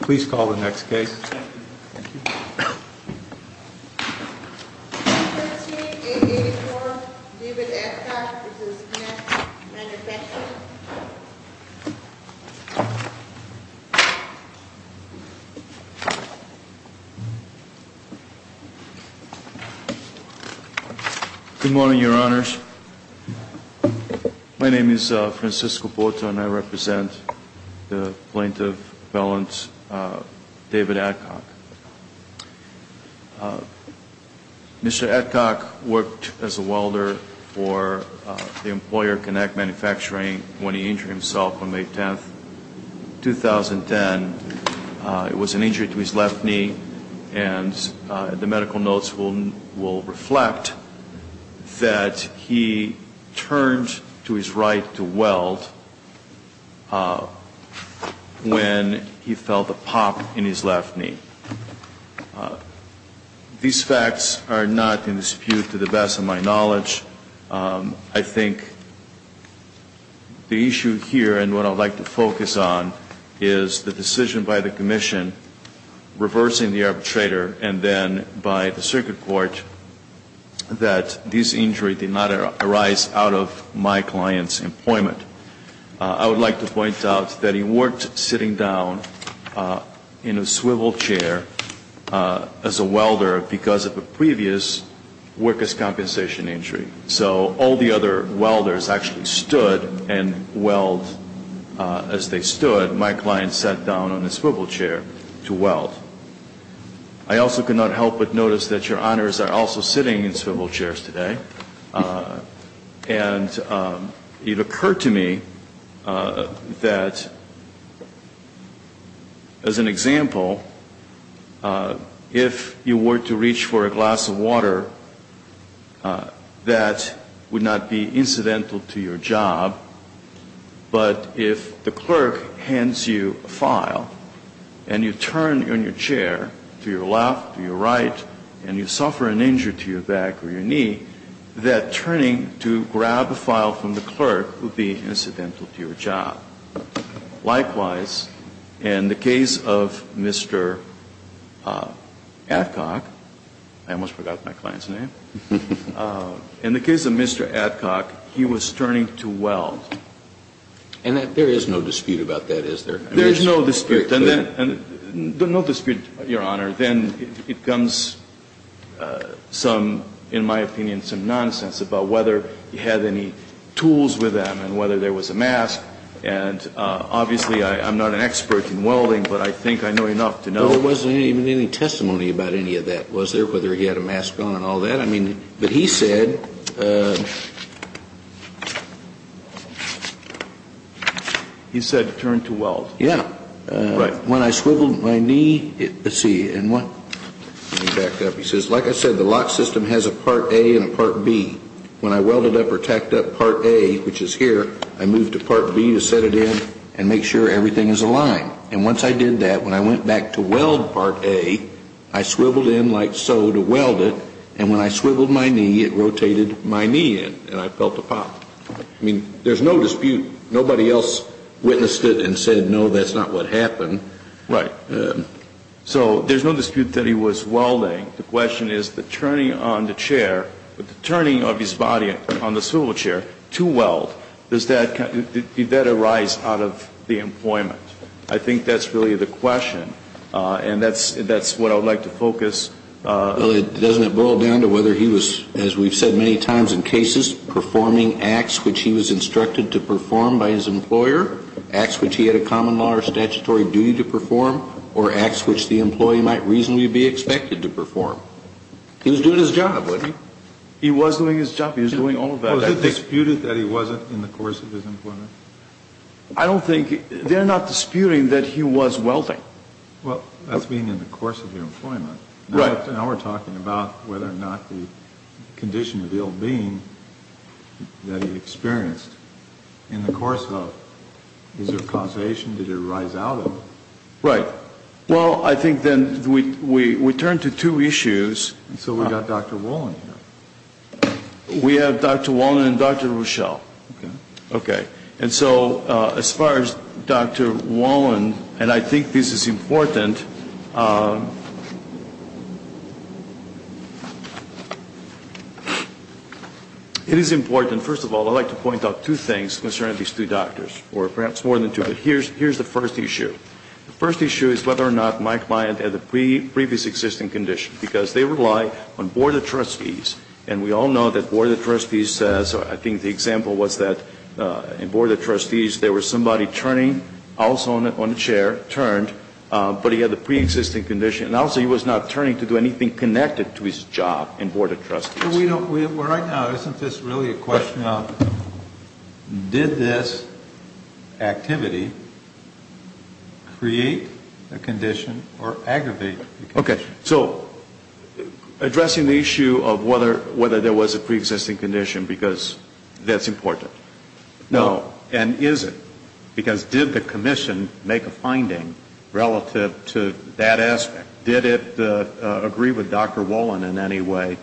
Please call the next case. Good morning, your honors. My name is Francisco Porter and I represent the Plaintiff Appellant David Adcock. Mr. Adcock worked as a welder for the Employer Connect Manufacturing when he injured himself on May 10, 2010. It was an injury to his left knee and the medical notes will reflect that he turned to his right to weld when he felt a pop in his left knee. These facts are not in dispute to the best of my knowledge. I think the issue here and what I would like to focus on is the decision by the commission reversing the arbitrator and then by the circuit court that this injury did not arise out of my client's employment. I would like to point out that he worked sitting down in a swivel chair as a welder because of a previous workers' compensation injury. So all the other welders actually stood and welded as they stood. My client sat down on a swivel chair to weld. I also could not help but notice that your honors are also sitting in swivel chairs today. And it occurred to me that as an example, if you were to reach for a glass of water, that would not be incidental to your job. But if the clerk hands you a file and you turn in your chair to your left, to your right, and you suffer an injury to your back or your knee, that turning to grab a file from the clerk would be incidental to your job. Likewise, in the case of Mr. Atcock, I almost forgot my client's name, in the case of Mr. Atcock, he was turning to weld. And there is no dispute about that, is there? There is no dispute. No dispute, your honor. Then it becomes some, in my opinion, some nonsense about whether he had any tools with him and whether there was a mask. And obviously, I'm not an expert in welding, but I think I know enough to know. There wasn't even any testimony about any of that, was there, whether he had a mask on and all that? I mean, but he said... He said turn to weld. Yeah. When I swiveled my knee, let's see. Let me back up. He says, like I said, the lock system has a Part A and a Part B. When I welded up or tacked up Part A, which is here, I moved to Part B to set it in and make sure everything is aligned. And once I did that, when I went back to weld Part A, I swiveled in like so to weld it, and when I swiveled my knee, it rotated my knee in, and I felt a pop. I mean, there's no dispute. Nobody else witnessed it and said, no, that's not what happened. Right. So there's no dispute that he was welding. The question is the turning on the chair, the turning of his body on the swivel chair to weld, did that arise out of the employment? I think that's really the question, and that's what I would like to focus... Well, doesn't it boil down to whether he was, as we've said many times in cases, performing acts which he was instructed to perform by his employer, acts which he had a common law or statutory duty to perform, or acts which the employee might reasonably be expected to perform? He was doing his job, wasn't he? He was doing his job. He was doing all of that. Was it disputed that he wasn't in the course of his employment? I don't think they're not disputing that he was welding. Well, that's being in the course of your employment. Right. Now we're talking about whether or not the condition of ill-being that he experienced in the course of his causation, did it arise out of it? Right. Well, I think then we turn to two issues. So we've got Dr. Wolin here. We have Dr. Wolin and Dr. Rochelle. Okay. And so as far as Dr. Wolin, and I think this is important. It is important, first of all, I'd like to point out two things concerning these two doctors, or perhaps more than two. Here's the first issue. The first issue is whether or not Mike Bryant had a previous existing condition, because they rely on Board of Trustees, and we all know that Board of Trustees, I think the example was that in Board of Trustees there was somebody turning, also on the chair, turned, but he had a preexisting condition. And also he was not turning to do anything connected to his job in Board of Trustees. Right now isn't this really a question of did this activity create a condition or aggravate a condition? Okay. So addressing the issue of whether there was a preexisting condition, because that's important. No. And is it? Because did the commission make a finding relative to that aspect? Did it agree with Dr. Wolin in any way?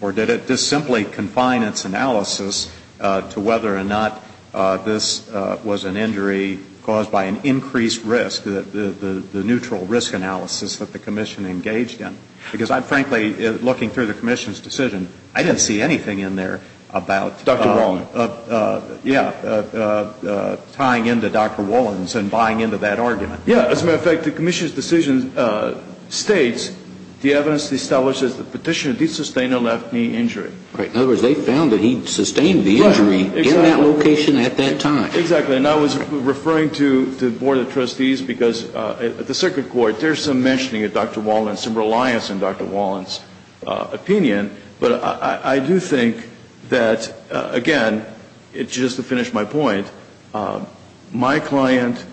Or did it just simply confine its analysis to whether or not this was an injury caused by an increased risk, the neutral risk analysis that the commission engaged in? Because I'm frankly, looking through the commission's decision, I didn't see anything in there about Dr. Wolin. Yeah. Tying into Dr. Wolin's and buying into that argument. Yeah. As a matter of fact, the commission's decision states the evidence establishes the petitioner did sustain a left knee injury. Right. In other words, they found that he sustained the injury in that location at that time. Exactly. And I was referring to the Board of Trustees because at the Circuit Court there's some mentioning of Dr. Wolin, some reliance on Dr. Wolin's opinion. But I do think that, again, just to finish my point, my client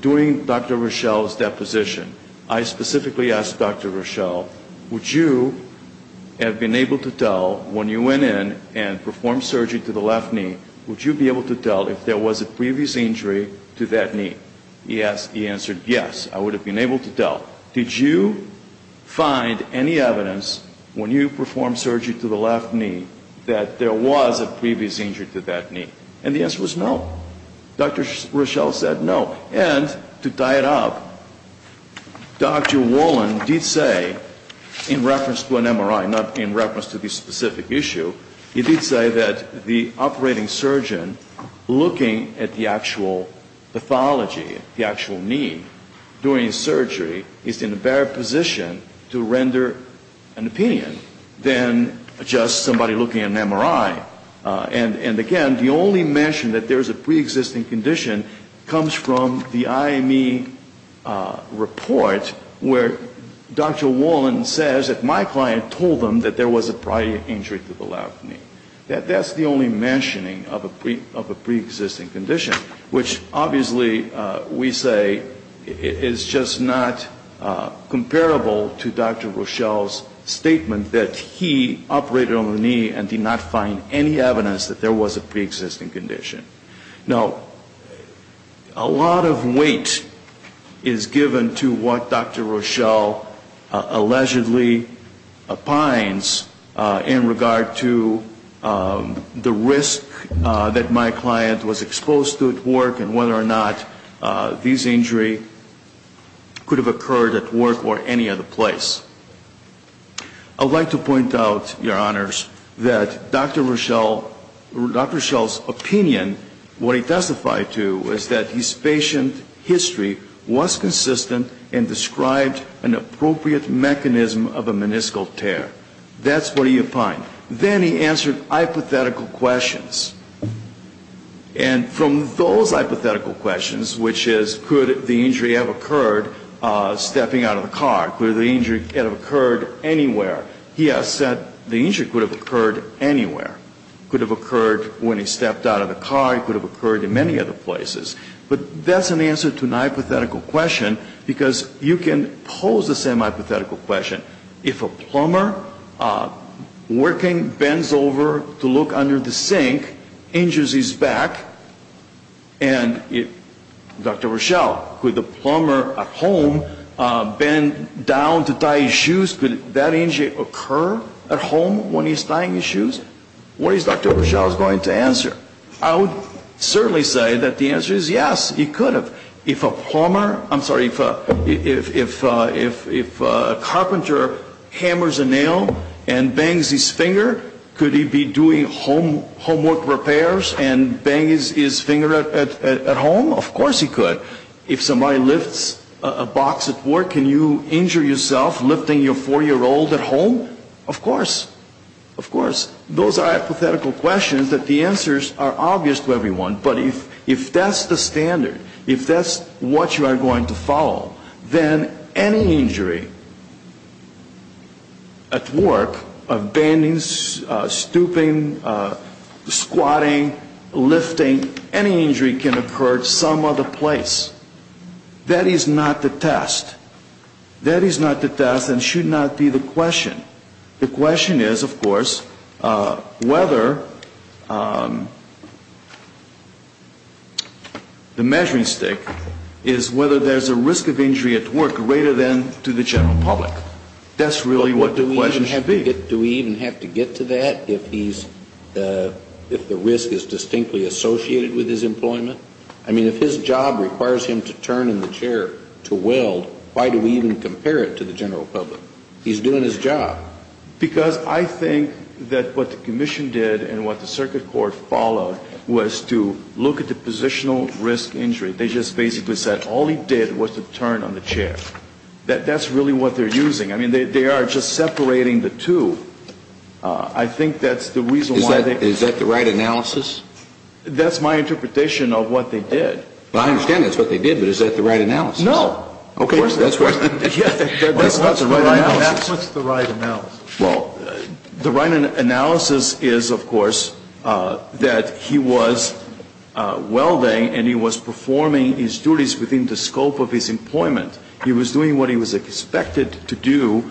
during Dr. Rochelle's deposition, I specifically asked Dr. Rochelle, would you have been able to tell when you went in and performed surgery to the left knee, would you be able to tell if there was a previous injury to that knee? He answered yes, I would have been able to tell. Did you find any evidence when you performed surgery to the left knee that there was a previous injury to that knee? And the answer was no. Dr. Rochelle said no. And to tie it up, Dr. Wolin did say, in reference to an MRI, not in reference to the specific issue, he did say that the operating surgeon looking at the actual pathology, the actual knee, during surgery, is in a better position to render an opinion than just somebody looking at an MRI. And, again, the only mention that there's a preexisting condition comes from the IME report where Dr. Wolin says that my client told him that there was a prior injury to the left knee. That's the only mentioning of a preexisting condition, which obviously we say is just not comparable to Dr. Rochelle's statement that he operated on the knee and did not find any evidence that there was a preexisting condition. Now, a lot of weight is given to what Dr. Rochelle allegedly opines in regard to the risk that my client was exposed to at work and whether or not this injury could have occurred at work or any other place. I'd like to point out, Your Honors, that Dr. Rochelle's opinion, what he testified to, was that his patient history was consistent and described an appropriate mechanism of a meniscal tear. That's what he opined. Then he answered hypothetical questions. And from those hypothetical questions, which is could the injury have occurred stepping out of the car, could the injury have occurred anywhere? He has said the injury could have occurred anywhere. It could have occurred when he stepped out of the car. It could have occurred in many other places. But that's an answer to an hypothetical question because you can pose the same hypothetical question. If a plumber, working, bends over to look under the sink, injures his back, and Dr. Rochelle, could the plumber at home bend down to tie his shoes, could that injury occur at home when he's tying his shoes? What is Dr. Rochelle going to answer? I would certainly say that the answer is yes, he could have. If a plumber, I'm sorry, if a carpenter hammers a nail and bangs his finger, could he be doing homework repairs and bang his finger at home? Of course he could. If somebody lifts a box at work, can you injure yourself lifting your 4-year-old at home? Of course. Of course. Those are hypothetical questions that the answers are obvious to everyone. But if that's the standard, if that's what you are going to follow, then any injury at work, bending, stooping, squatting, lifting, any injury can occur at some other place. That is not the test. That is not the test and should not be the question. The question is, of course, whether the measuring stick is whether there's a risk of injury at work greater than to the general public. That's really what the question should be. Do we even have to get to that if the risk is distinctly associated with his employment? I mean, if his job requires him to turn in the chair to weld, why do we even compare it to the general public? He's doing his job. Because I think that what the commission did and what the circuit court followed was to look at the positional risk injury. They just basically said all he did was to turn on the chair. That's really what they're using. I mean, they are just separating the two. I think that's the reason why they... Is that the right analysis? That's my interpretation of what they did. I understand that's what they did, but is that the right analysis? No. Okay. That's not the right analysis. What's the right analysis? Well, the right analysis is, of course, that he was welding and he was performing his duties within the scope of his employment. He was doing what he was expected to do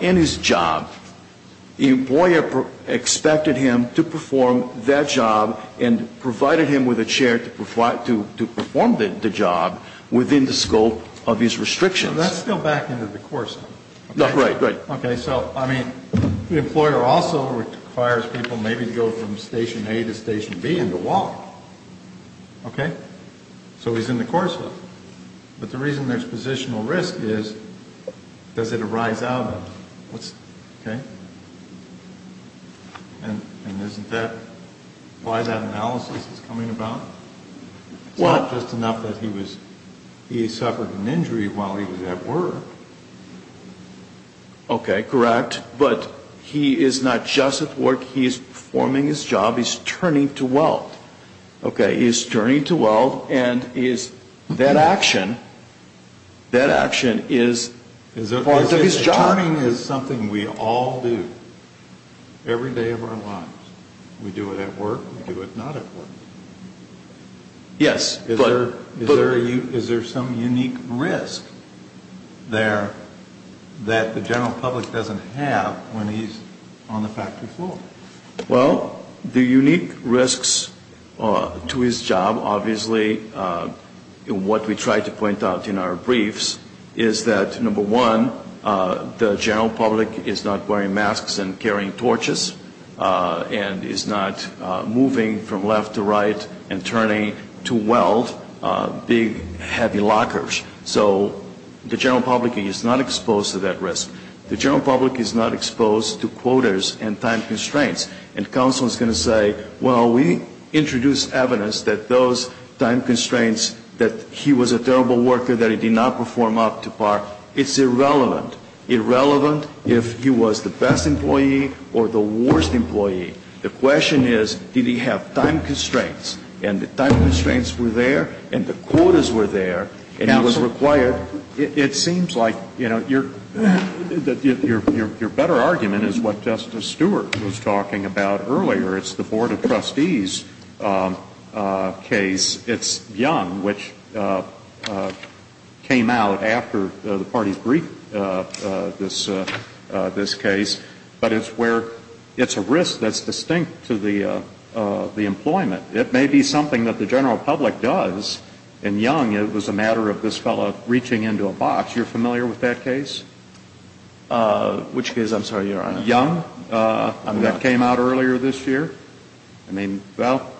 in his job. The employer expected him to perform that job and provided him with a chair to perform the job within the scope of his restrictions. So that's still back into the course. Right, right. Okay. So, I mean, the employer also requires people maybe to go from Station A to Station B and to walk. Okay? So he's in the course. But the reason there's positional risk is, does it arise out of it? Okay? And isn't that why that analysis is coming about? What? It's not just enough that he suffered an injury while he was at work. Okay, correct. But he is not just at work. He is performing his job. He's turning to weld. Okay? He's turning to weld and that action is part of his job. Turning is something we all do every day of our lives. We do it at work. We do it not at work. Yes. Is there some unique risk there that the general public doesn't have when he's on the factory floor? Well, the unique risks to his job, obviously, what we try to point out in our briefs, is that, number one, the general public is not wearing masks and carrying torches and is not moving from left to right and turning to weld big heavy lockers. So the general public is not exposed to that risk. The general public is not exposed to quotas and time constraints. And counsel is going to say, well, we introduced evidence that those time constraints, that he was a terrible worker, that he did not perform up to par. It's irrelevant. Irrelevant if he was the best employee or the worst employee. The question is, did he have time constraints? And the time constraints were there and the quotas were there and he was required. It seems like, you know, your better argument is what Justice Stewart was talking about earlier. It's the Board of Trustees case. It's Young, which came out after the parties briefed this case, but it's where it's a risk that's distinct to the employment. It may be something that the general public does, and Young, it was a matter of this fellow reaching into a box. You're familiar with that case? Which case? I'm sorry, Your Honor. Young, that came out earlier this year? I mean, well,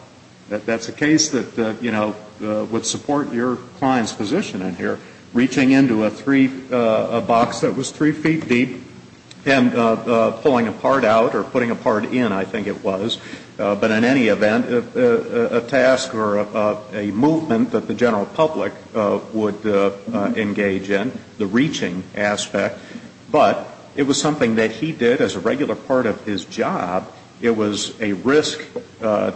that's a case that, you know, would support your client's position in here, reaching into a box that was three feet deep and pulling a part out or putting a part in, I think it was. But in any event, a task or a movement that the general public would engage in, the reaching aspect. But it was something that he did as a regular part of his job. It was a risk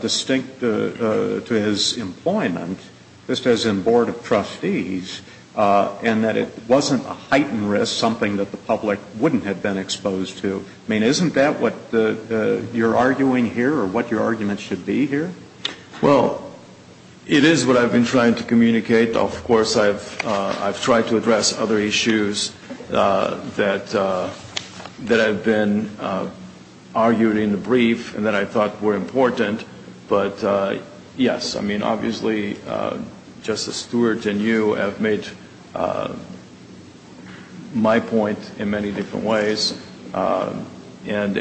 distinct to his employment, just as in Board of Trustees, and that it wasn't a heightened risk, something that the public wouldn't have been exposed to. I mean, isn't that what you're arguing here or what your argument should be here? Well, it is what I've been trying to communicate. Of course, I've tried to address other issues that have been argued in the brief and that I thought were important. But, yes, I mean, obviously, Justice Stewart and you have made my point in many different ways. And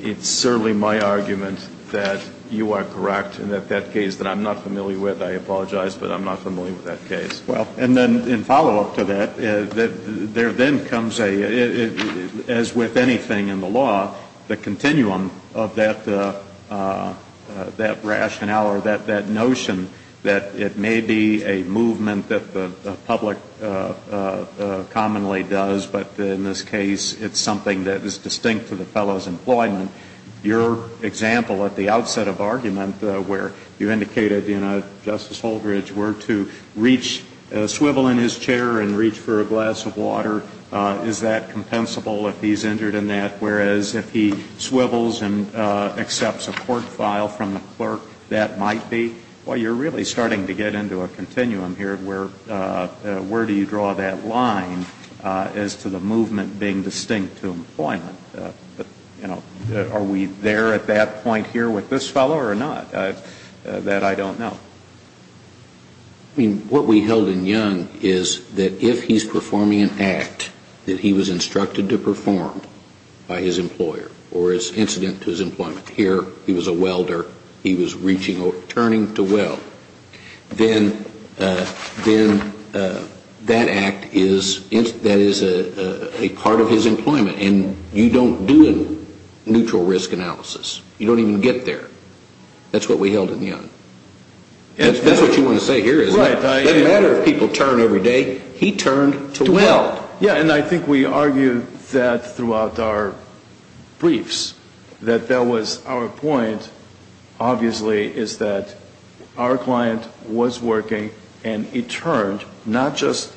it's certainly my argument that you are correct and that that case that I'm not familiar with, I apologize, but I'm not familiar with that case. Well, and then in follow-up to that, there then comes a, as with anything in the law, the continuum of that rationale or that notion that it may be a movement that the public commonly does, but in this case it's something that is distinct to the fellow's employment. Your example at the outset of argument where you indicated Justice Holdridge were to reach, swivel in his chair and reach for a glass of water, is that compensable if he's injured in that? Whereas if he swivels and accepts a court file from the clerk, that might be. Well, you're really starting to get into a continuum here where do you draw that line as to the movement being distinct to employment? But, you know, are we there at that point here with this fellow or not? That I don't know. I mean, what we held in Young is that if he's performing an act that he was instructed to perform by his employer or is incident to his employment here, he was a welder, he was reaching or turning to weld, then that act is a part of his employment. And you don't do a neutral risk analysis. You don't even get there. That's what we held in Young. That's what you want to say here, isn't it? It doesn't matter if people turn every day. He turned to weld. Yeah, and I think we argued that throughout our briefs, that that was our point, obviously, is that our client was working and he turned not just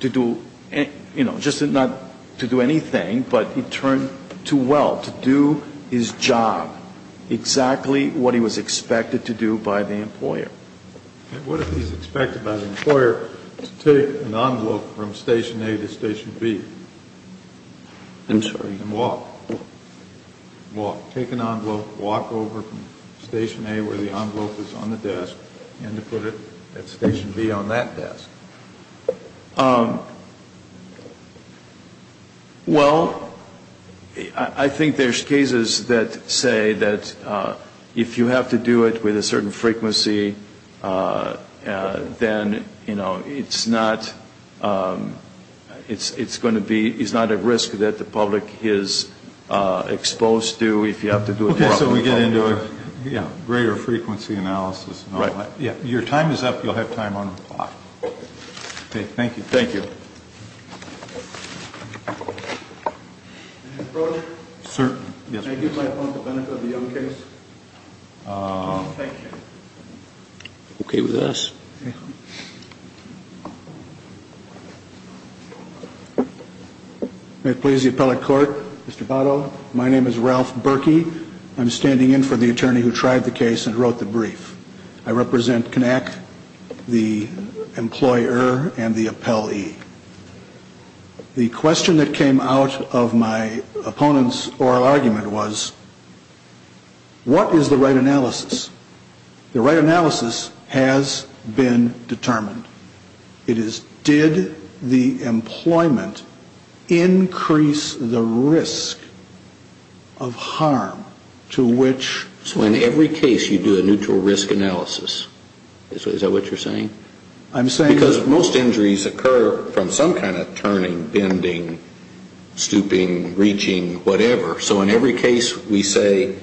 to do, you know, just not to do anything, but he turned to weld, to do his job exactly what he was expected to do by the employer. And what if he's expected by the employer to take an envelope from station A to station B? I'm sorry? And walk. Walk. Take an envelope, walk over from station A where the envelope is on the desk and to put it at station B on that desk. Um, well, I think there's cases that say that if you have to do it with a certain frequency, then, you know, it's not, it's going to be, it's not a risk that the public is exposed to if you have to do it. Okay, so we get into a greater frequency analysis. Right. Yeah, your time is up. You'll have time on the clock. Okay, thank you. Thank you. Mr. Broderick. Sir. Can I give my opponent the benefit of the young case? Thank you. Okay with us. May it please the appellate court, Mr. Botto, my name is Ralph Berkey. I'm standing in for the attorney who tried the case and wrote the brief. I represent CONAC, the employer, and the appellee. The question that came out of my opponent's oral argument was, what is the right analysis? The right analysis has been determined. It is did the employment increase the risk of harm to which? So in every case you do a neutral risk analysis. Is that what you're saying? I'm saying that. Because most injuries occur from some kind of turning, bending, stooping, reaching, whatever. So in every case we say,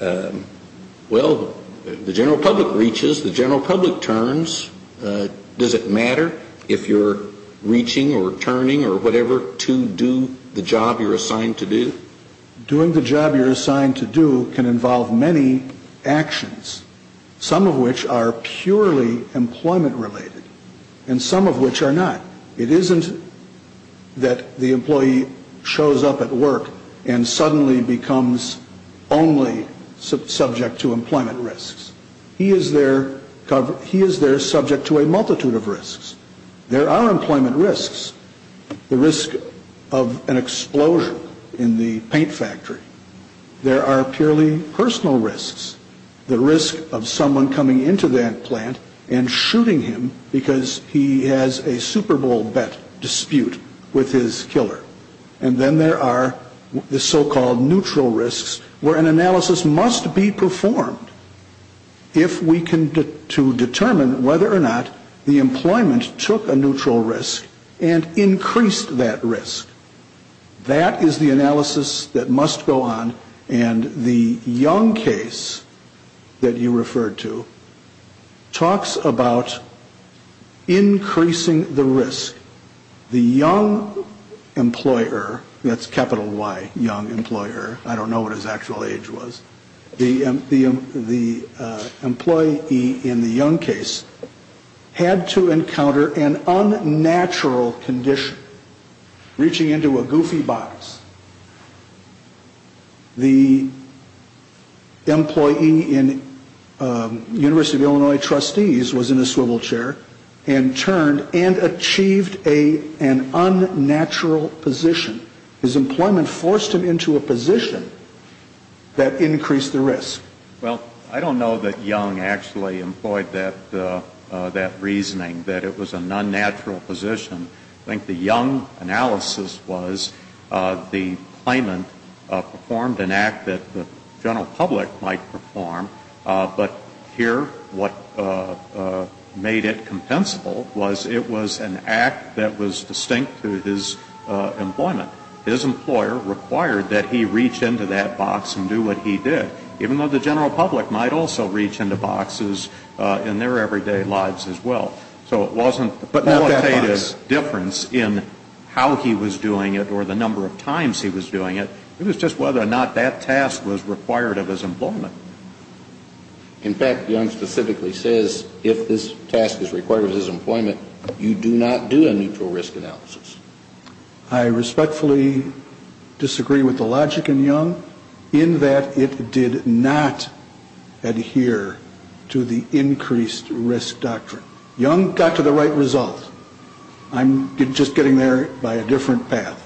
well, the general public reaches, the general public turns. Does it matter if you're reaching or turning or whatever to do the job you're assigned to do? Doing the job you're assigned to do can involve many actions. Some of which are purely employment related. And some of which are not. It isn't that the employee shows up at work and suddenly becomes only subject to employment risks. There are employment risks. The risk of an explosion in the paint factory. There are purely personal risks. The risk of someone coming into that plant and shooting him because he has a Super Bowl bet dispute with his killer. And then there are the so-called neutral risks where an analysis must be performed. If we can determine whether or not the employment took a neutral risk and increased that risk. That is the analysis that must go on. And the young case that you referred to talks about increasing the risk. The young employer, that's capital Y, young employer. I don't know what his actual age was. The employee in the young case had to encounter an unnatural condition. Reaching into a goofy box. The employee in University of Illinois trustees was in a swivel chair and turned and achieved an unnatural position. His employment forced him into a position that increased the risk. Well, I don't know that young actually employed that reasoning that it was an unnatural position. I think the young analysis was the claimant performed an act that the general public might perform. But here what made it compensable was it was an act that was distinct to his employment. His employer required that he reach into that box and do what he did. Even though the general public might also reach into boxes in their everyday lives as well. So it wasn't the qualitative difference in how he was doing it or the number of times he was doing it. It was just whether or not that task was required of his employment. In fact, Young specifically says if this task is required of his employment, you do not do a neutral risk analysis. I respectfully disagree with the logic in Young in that it did not adhere to the increased risk doctrine. Young got to the right result. I'm just getting there by a different path.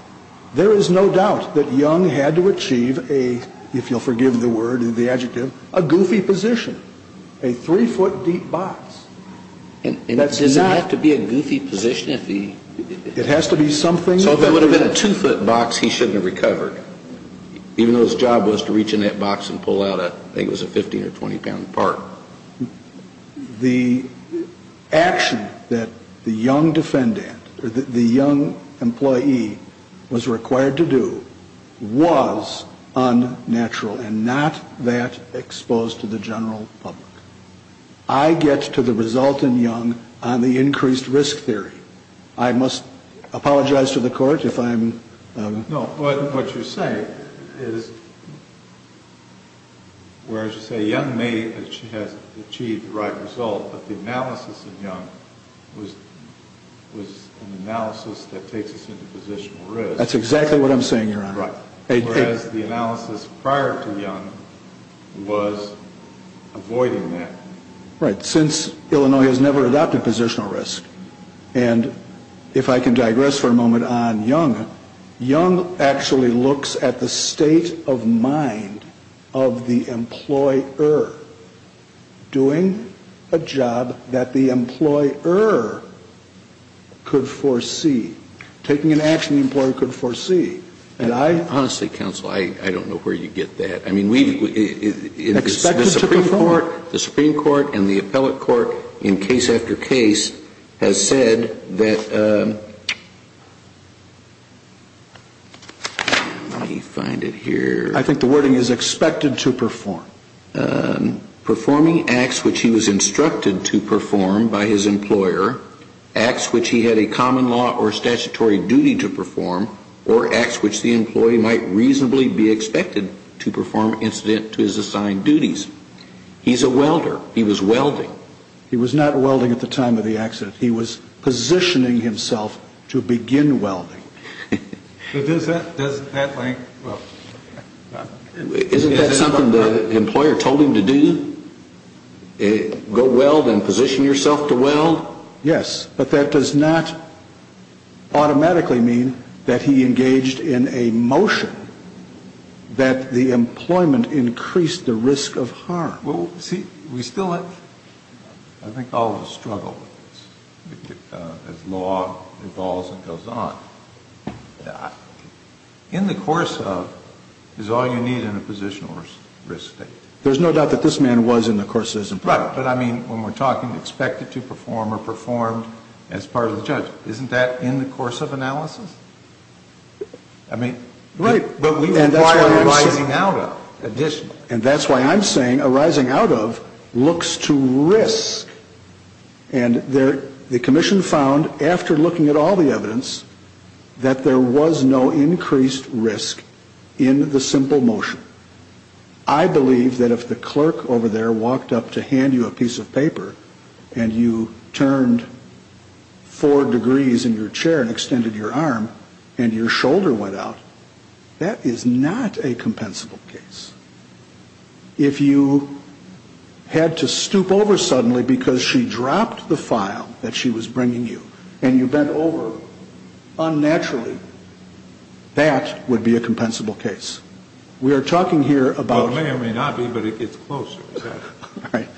There is no doubt that Young had to achieve a, if you'll forgive the word, the adjective, a goofy position. A three-foot deep box. And does it have to be a goofy position if he... It has to be something... So if it would have been a two-foot box, he shouldn't have recovered. Even though his job was to reach in that box and pull out, I think it was a 15 or 20-pound part. The action that the Young defendant or the Young employee was required to do was unnatural and not that exposed to the general public. I get to the result in Young on the increased risk theory. I must apologize to the Court if I'm... No, but what you're saying is, whereas you say Young may have achieved the right result, but the analysis in Young was an analysis that takes us into positional risk. That's exactly what I'm saying, Your Honor. Whereas the analysis prior to Young was avoiding that. Right, since Illinois has never adopted positional risk. And if I can digress for a moment on Young, Young actually looks at the state of mind of the employer doing a job that the employer could foresee, taking an action the employer could foresee. And I... Honestly, counsel, I don't know where you get that. The Supreme Court and the appellate court in case after case has said that... Let me find it here. I think the wording is expected to perform. Performing acts which he was instructed to perform by his employer, acts which he had a common law or statutory duty to perform, or acts which the employee might reasonably be expected to perform incident to his assigned duties. He's a welder. He was welding. He was not welding at the time of the accident. He was positioning himself to begin welding. Isn't that something the employer told him to do? Go weld and position yourself to weld? Yes. But that does not automatically mean that he engaged in a motion that the employment increased the risk of harm. Well, see, we still have... I think all of us struggle with this as law evolves and goes on. In the course of is all you need in a positional risk state. There's no doubt that this man was in the course of his employment. Right. But, I mean, when we're talking expected to perform or performed as part of the judgment, isn't that in the course of analysis? I mean... Right. But we require a rising out of additionally. And that's why I'm saying a rising out of looks to risk. And the commission found, after looking at all the evidence, that there was no increased risk in the simple motion. I believe that if the clerk over there walked up to hand you a piece of paper and you turned four degrees in your chair and extended your arm and your shoulder went out, that is not a compensable case. If you had to stoop over suddenly because she dropped the file that she was bringing you and you bent over unnaturally, that would be a compensable case. We are talking here about... Well, it may or may not be, but it's closer. All right.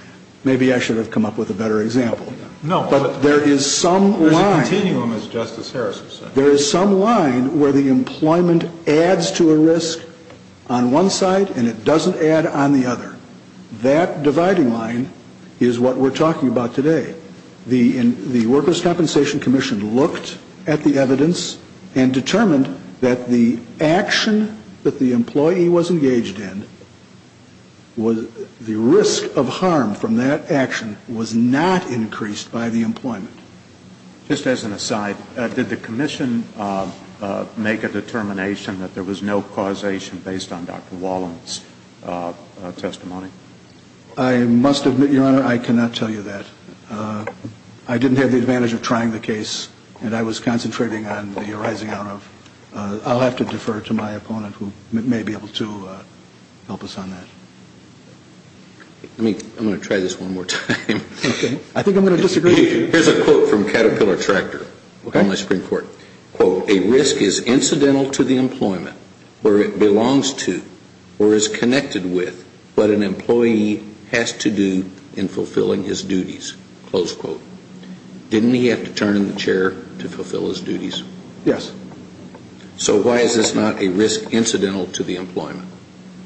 Maybe I should have come up with a better example. No. But there is some line... There's a continuum, as Justice Harris has said. There is some line where the employment adds to a risk on one side and it doesn't add on the other. That dividing line is what we're talking about today. The workers' compensation commission looked at the evidence and determined that the action that the employee was engaged in, the risk of harm from that action was not increased by the employment. Just as an aside, did the commission make a determination that there was no causation based on Dr. Wallen's testimony? I must admit, Your Honor, I cannot tell you that. I didn't have the advantage of trying the case, and I was concentrating on the arising out of. I'll have to defer to my opponent who may be able to help us on that. I'm going to try this one more time. Okay. I think I'm going to disagree with you. Here's a quote from Caterpillar Tractor. Okay. A risk is incidental to the employment where it belongs to or is connected with what an employee has to do in fulfilling his duties. Didn't he have to turn in the chair to fulfill his duties? Yes. So why is this not a risk incidental to the employment?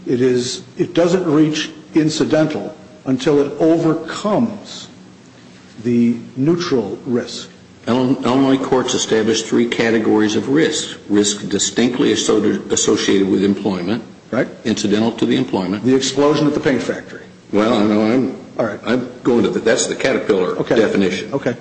It doesn't reach incidental until it overcomes the neutral risk. Illinois courts establish three categories of risk. Risk distinctly associated with employment. Right. Incidental to the employment. The explosion at the paint factory. Well, I'm going to, but that's the Caterpillar definition. Okay.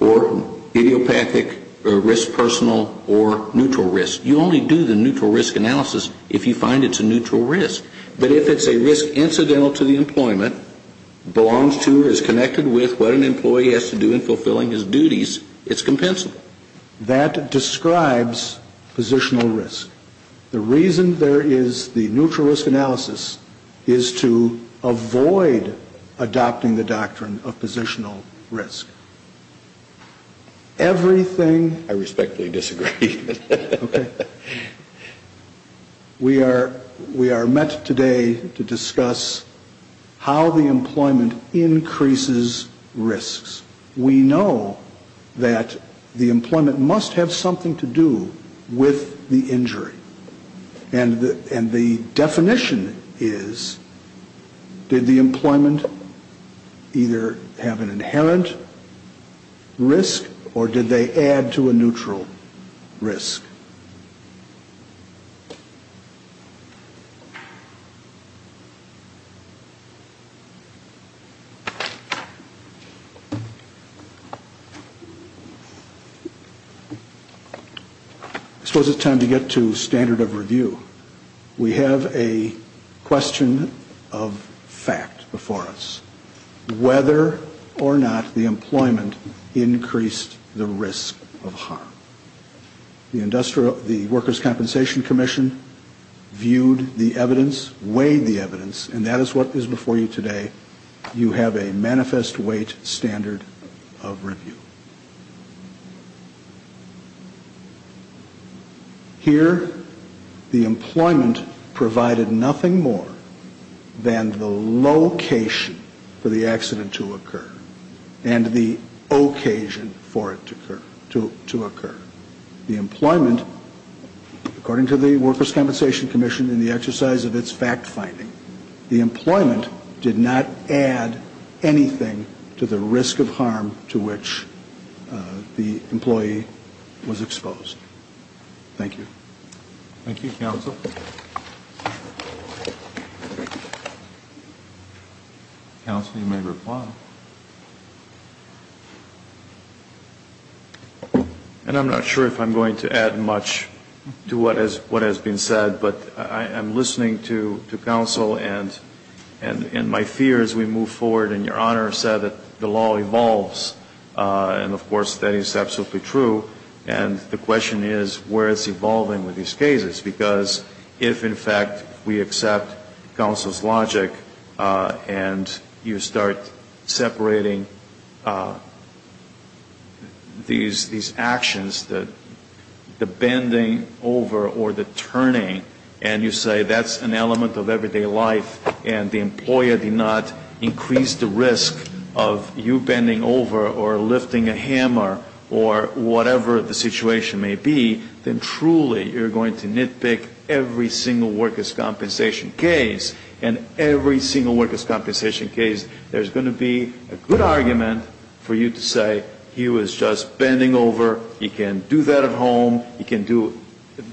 Or idiopathic risk personal or neutral risk. You only do the neutral risk analysis if you find it's a neutral risk. But if it's a risk incidental to the employment, belongs to or is connected with what an employee has to do in fulfilling his duties, it's compensable. That describes positional risk. The reason there is the neutral risk analysis is to avoid adopting the doctrine of positional risk. Everything – I respectfully disagree. Okay. We are met today to discuss how the employment increases risks. We know that the employment must have something to do with the injury. And the definition is, did the employment either have an inherent risk or did they add to a neutral risk? I suppose it's time to get to standard of review. We have a question of fact before us. Whether or not the employment increased the risk of harm. The Workers' Compensation Commission viewed the evidence, weighed the evidence, and that is what is before you today. You have a manifest weight standard of review. Here, the employment provided nothing more than the location for the accident to occur and the occasion for it to occur. The employment, according to the Workers' Compensation Commission in the exercise of its fact finding, the employment did not add anything to the risk of harm to which the employee was exposed. Thank you. Thank you, Counsel. Counsel, you may reply. And I'm not sure if I'm going to add much to what has been said, but I'm listening to Counsel and my fear as we move forward. And Your Honor said that the law evolves. And, of course, that is absolutely true. And the question is, where is it evolving with these cases? Because if, in fact, we accept Counsel's logic and you start separating these actions, the bending over or the turning, and you say that's an element of everyday life and the employer did not increase the risk of you bending over or lifting a hammer or whatever the situation may be, then truly you're going to nitpick every single workers' compensation case. And every single workers' compensation case, there's going to be a good argument for you to say he was just bending over. He can do that at home. He can do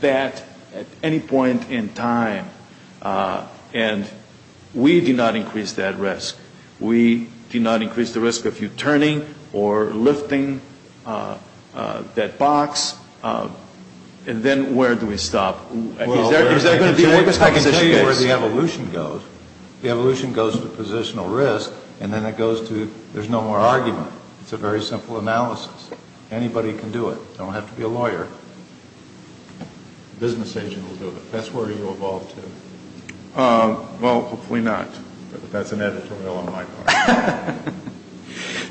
that at any point in time. And we do not increase that risk. We do not increase the risk of you turning or lifting that box. And then where do we stop? I can tell you where the evolution goes. The evolution goes to positional risk, and then it goes to there's no more argument. It's a very simple analysis. Anybody can do it. You don't have to be a lawyer. A business agent will do it. That's where you evolve to. Well, hopefully not, but that's an editorial on my part.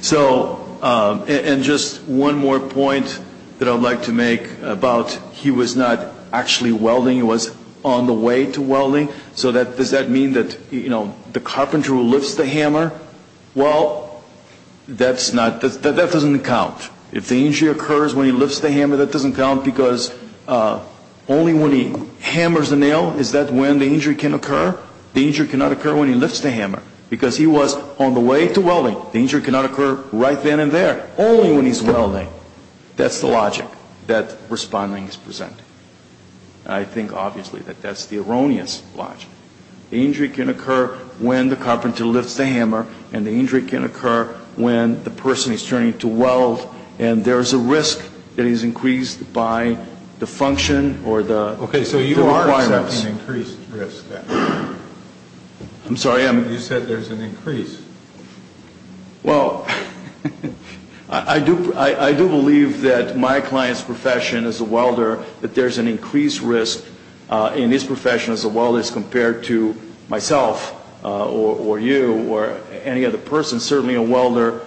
So, and just one more point that I would like to make about he was not actually welding. He was on the way to welding. So does that mean that, you know, the carpenter who lifts the hammer, well, that doesn't count. If the injury occurs when he lifts the hammer, that doesn't count, because only when he hammers the nail is that when the injury can occur. The injury cannot occur when he lifts the hammer. Because he was on the way to welding. The injury cannot occur right then and there. Only when he's welding. That's the logic that Responding is presenting. I think, obviously, that that's the erroneous logic. The injury can occur when the carpenter lifts the hammer, and the injury can occur when the person is turning to weld, and there's a risk that is increased by the function or the requirements. Okay, so you are accepting increased risk. I'm sorry? You said there's an increase. Well, I do believe that my client's profession as a welder, that there's an increased risk in his profession as a welder as compared to myself or you or any other person, certainly a welder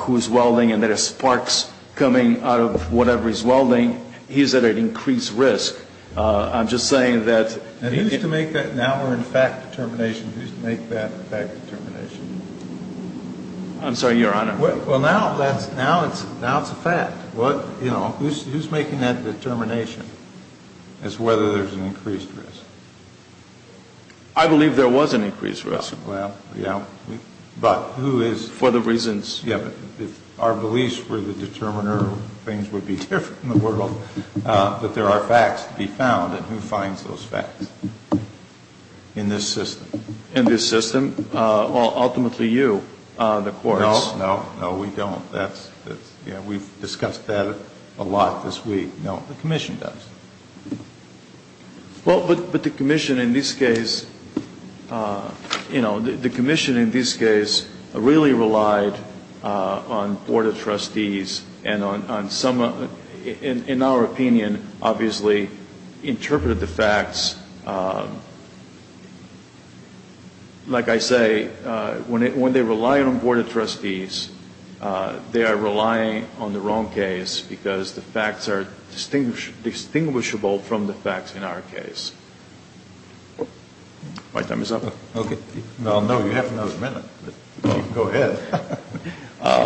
who is welding and there are sparks coming out of whatever he's welding, he's at an increased risk. I'm just saying that he is. Now we're in fact determination. Who's to make that fact determination? I'm sorry, Your Honor? Well, now it's a fact. Who's making that determination as to whether there's an increased risk? I believe there was an increased risk. Well, yeah, but who is? For the reasons. Yeah, but if our beliefs were the determiner, things would be different in the world. But there are facts to be found, and who finds those facts in this system? In this system? Well, ultimately you, the courts. No, no, no, we don't. We've discussed that a lot this week. No, the commission does. Well, but the commission in this case, you know, the commission in this case really relied on Board of Trustees and on some, in our opinion, obviously, interpreted the facts. Like I say, when they rely on Board of Trustees, they are relying on the wrong case because the facts are distinguishable from the facts in our case. My time is up. Okay. Well, no, you have another minute, but you can go ahead. I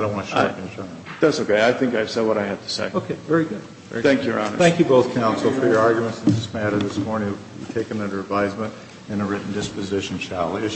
don't want to shock you, Your Honor. That's okay. I think I've said what I have to say. Okay. Very good. Thank you, Your Honor. Thank you both, counsel, for your arguments in this matter this morning. We'll take them under advisement in a written disposition, shall we?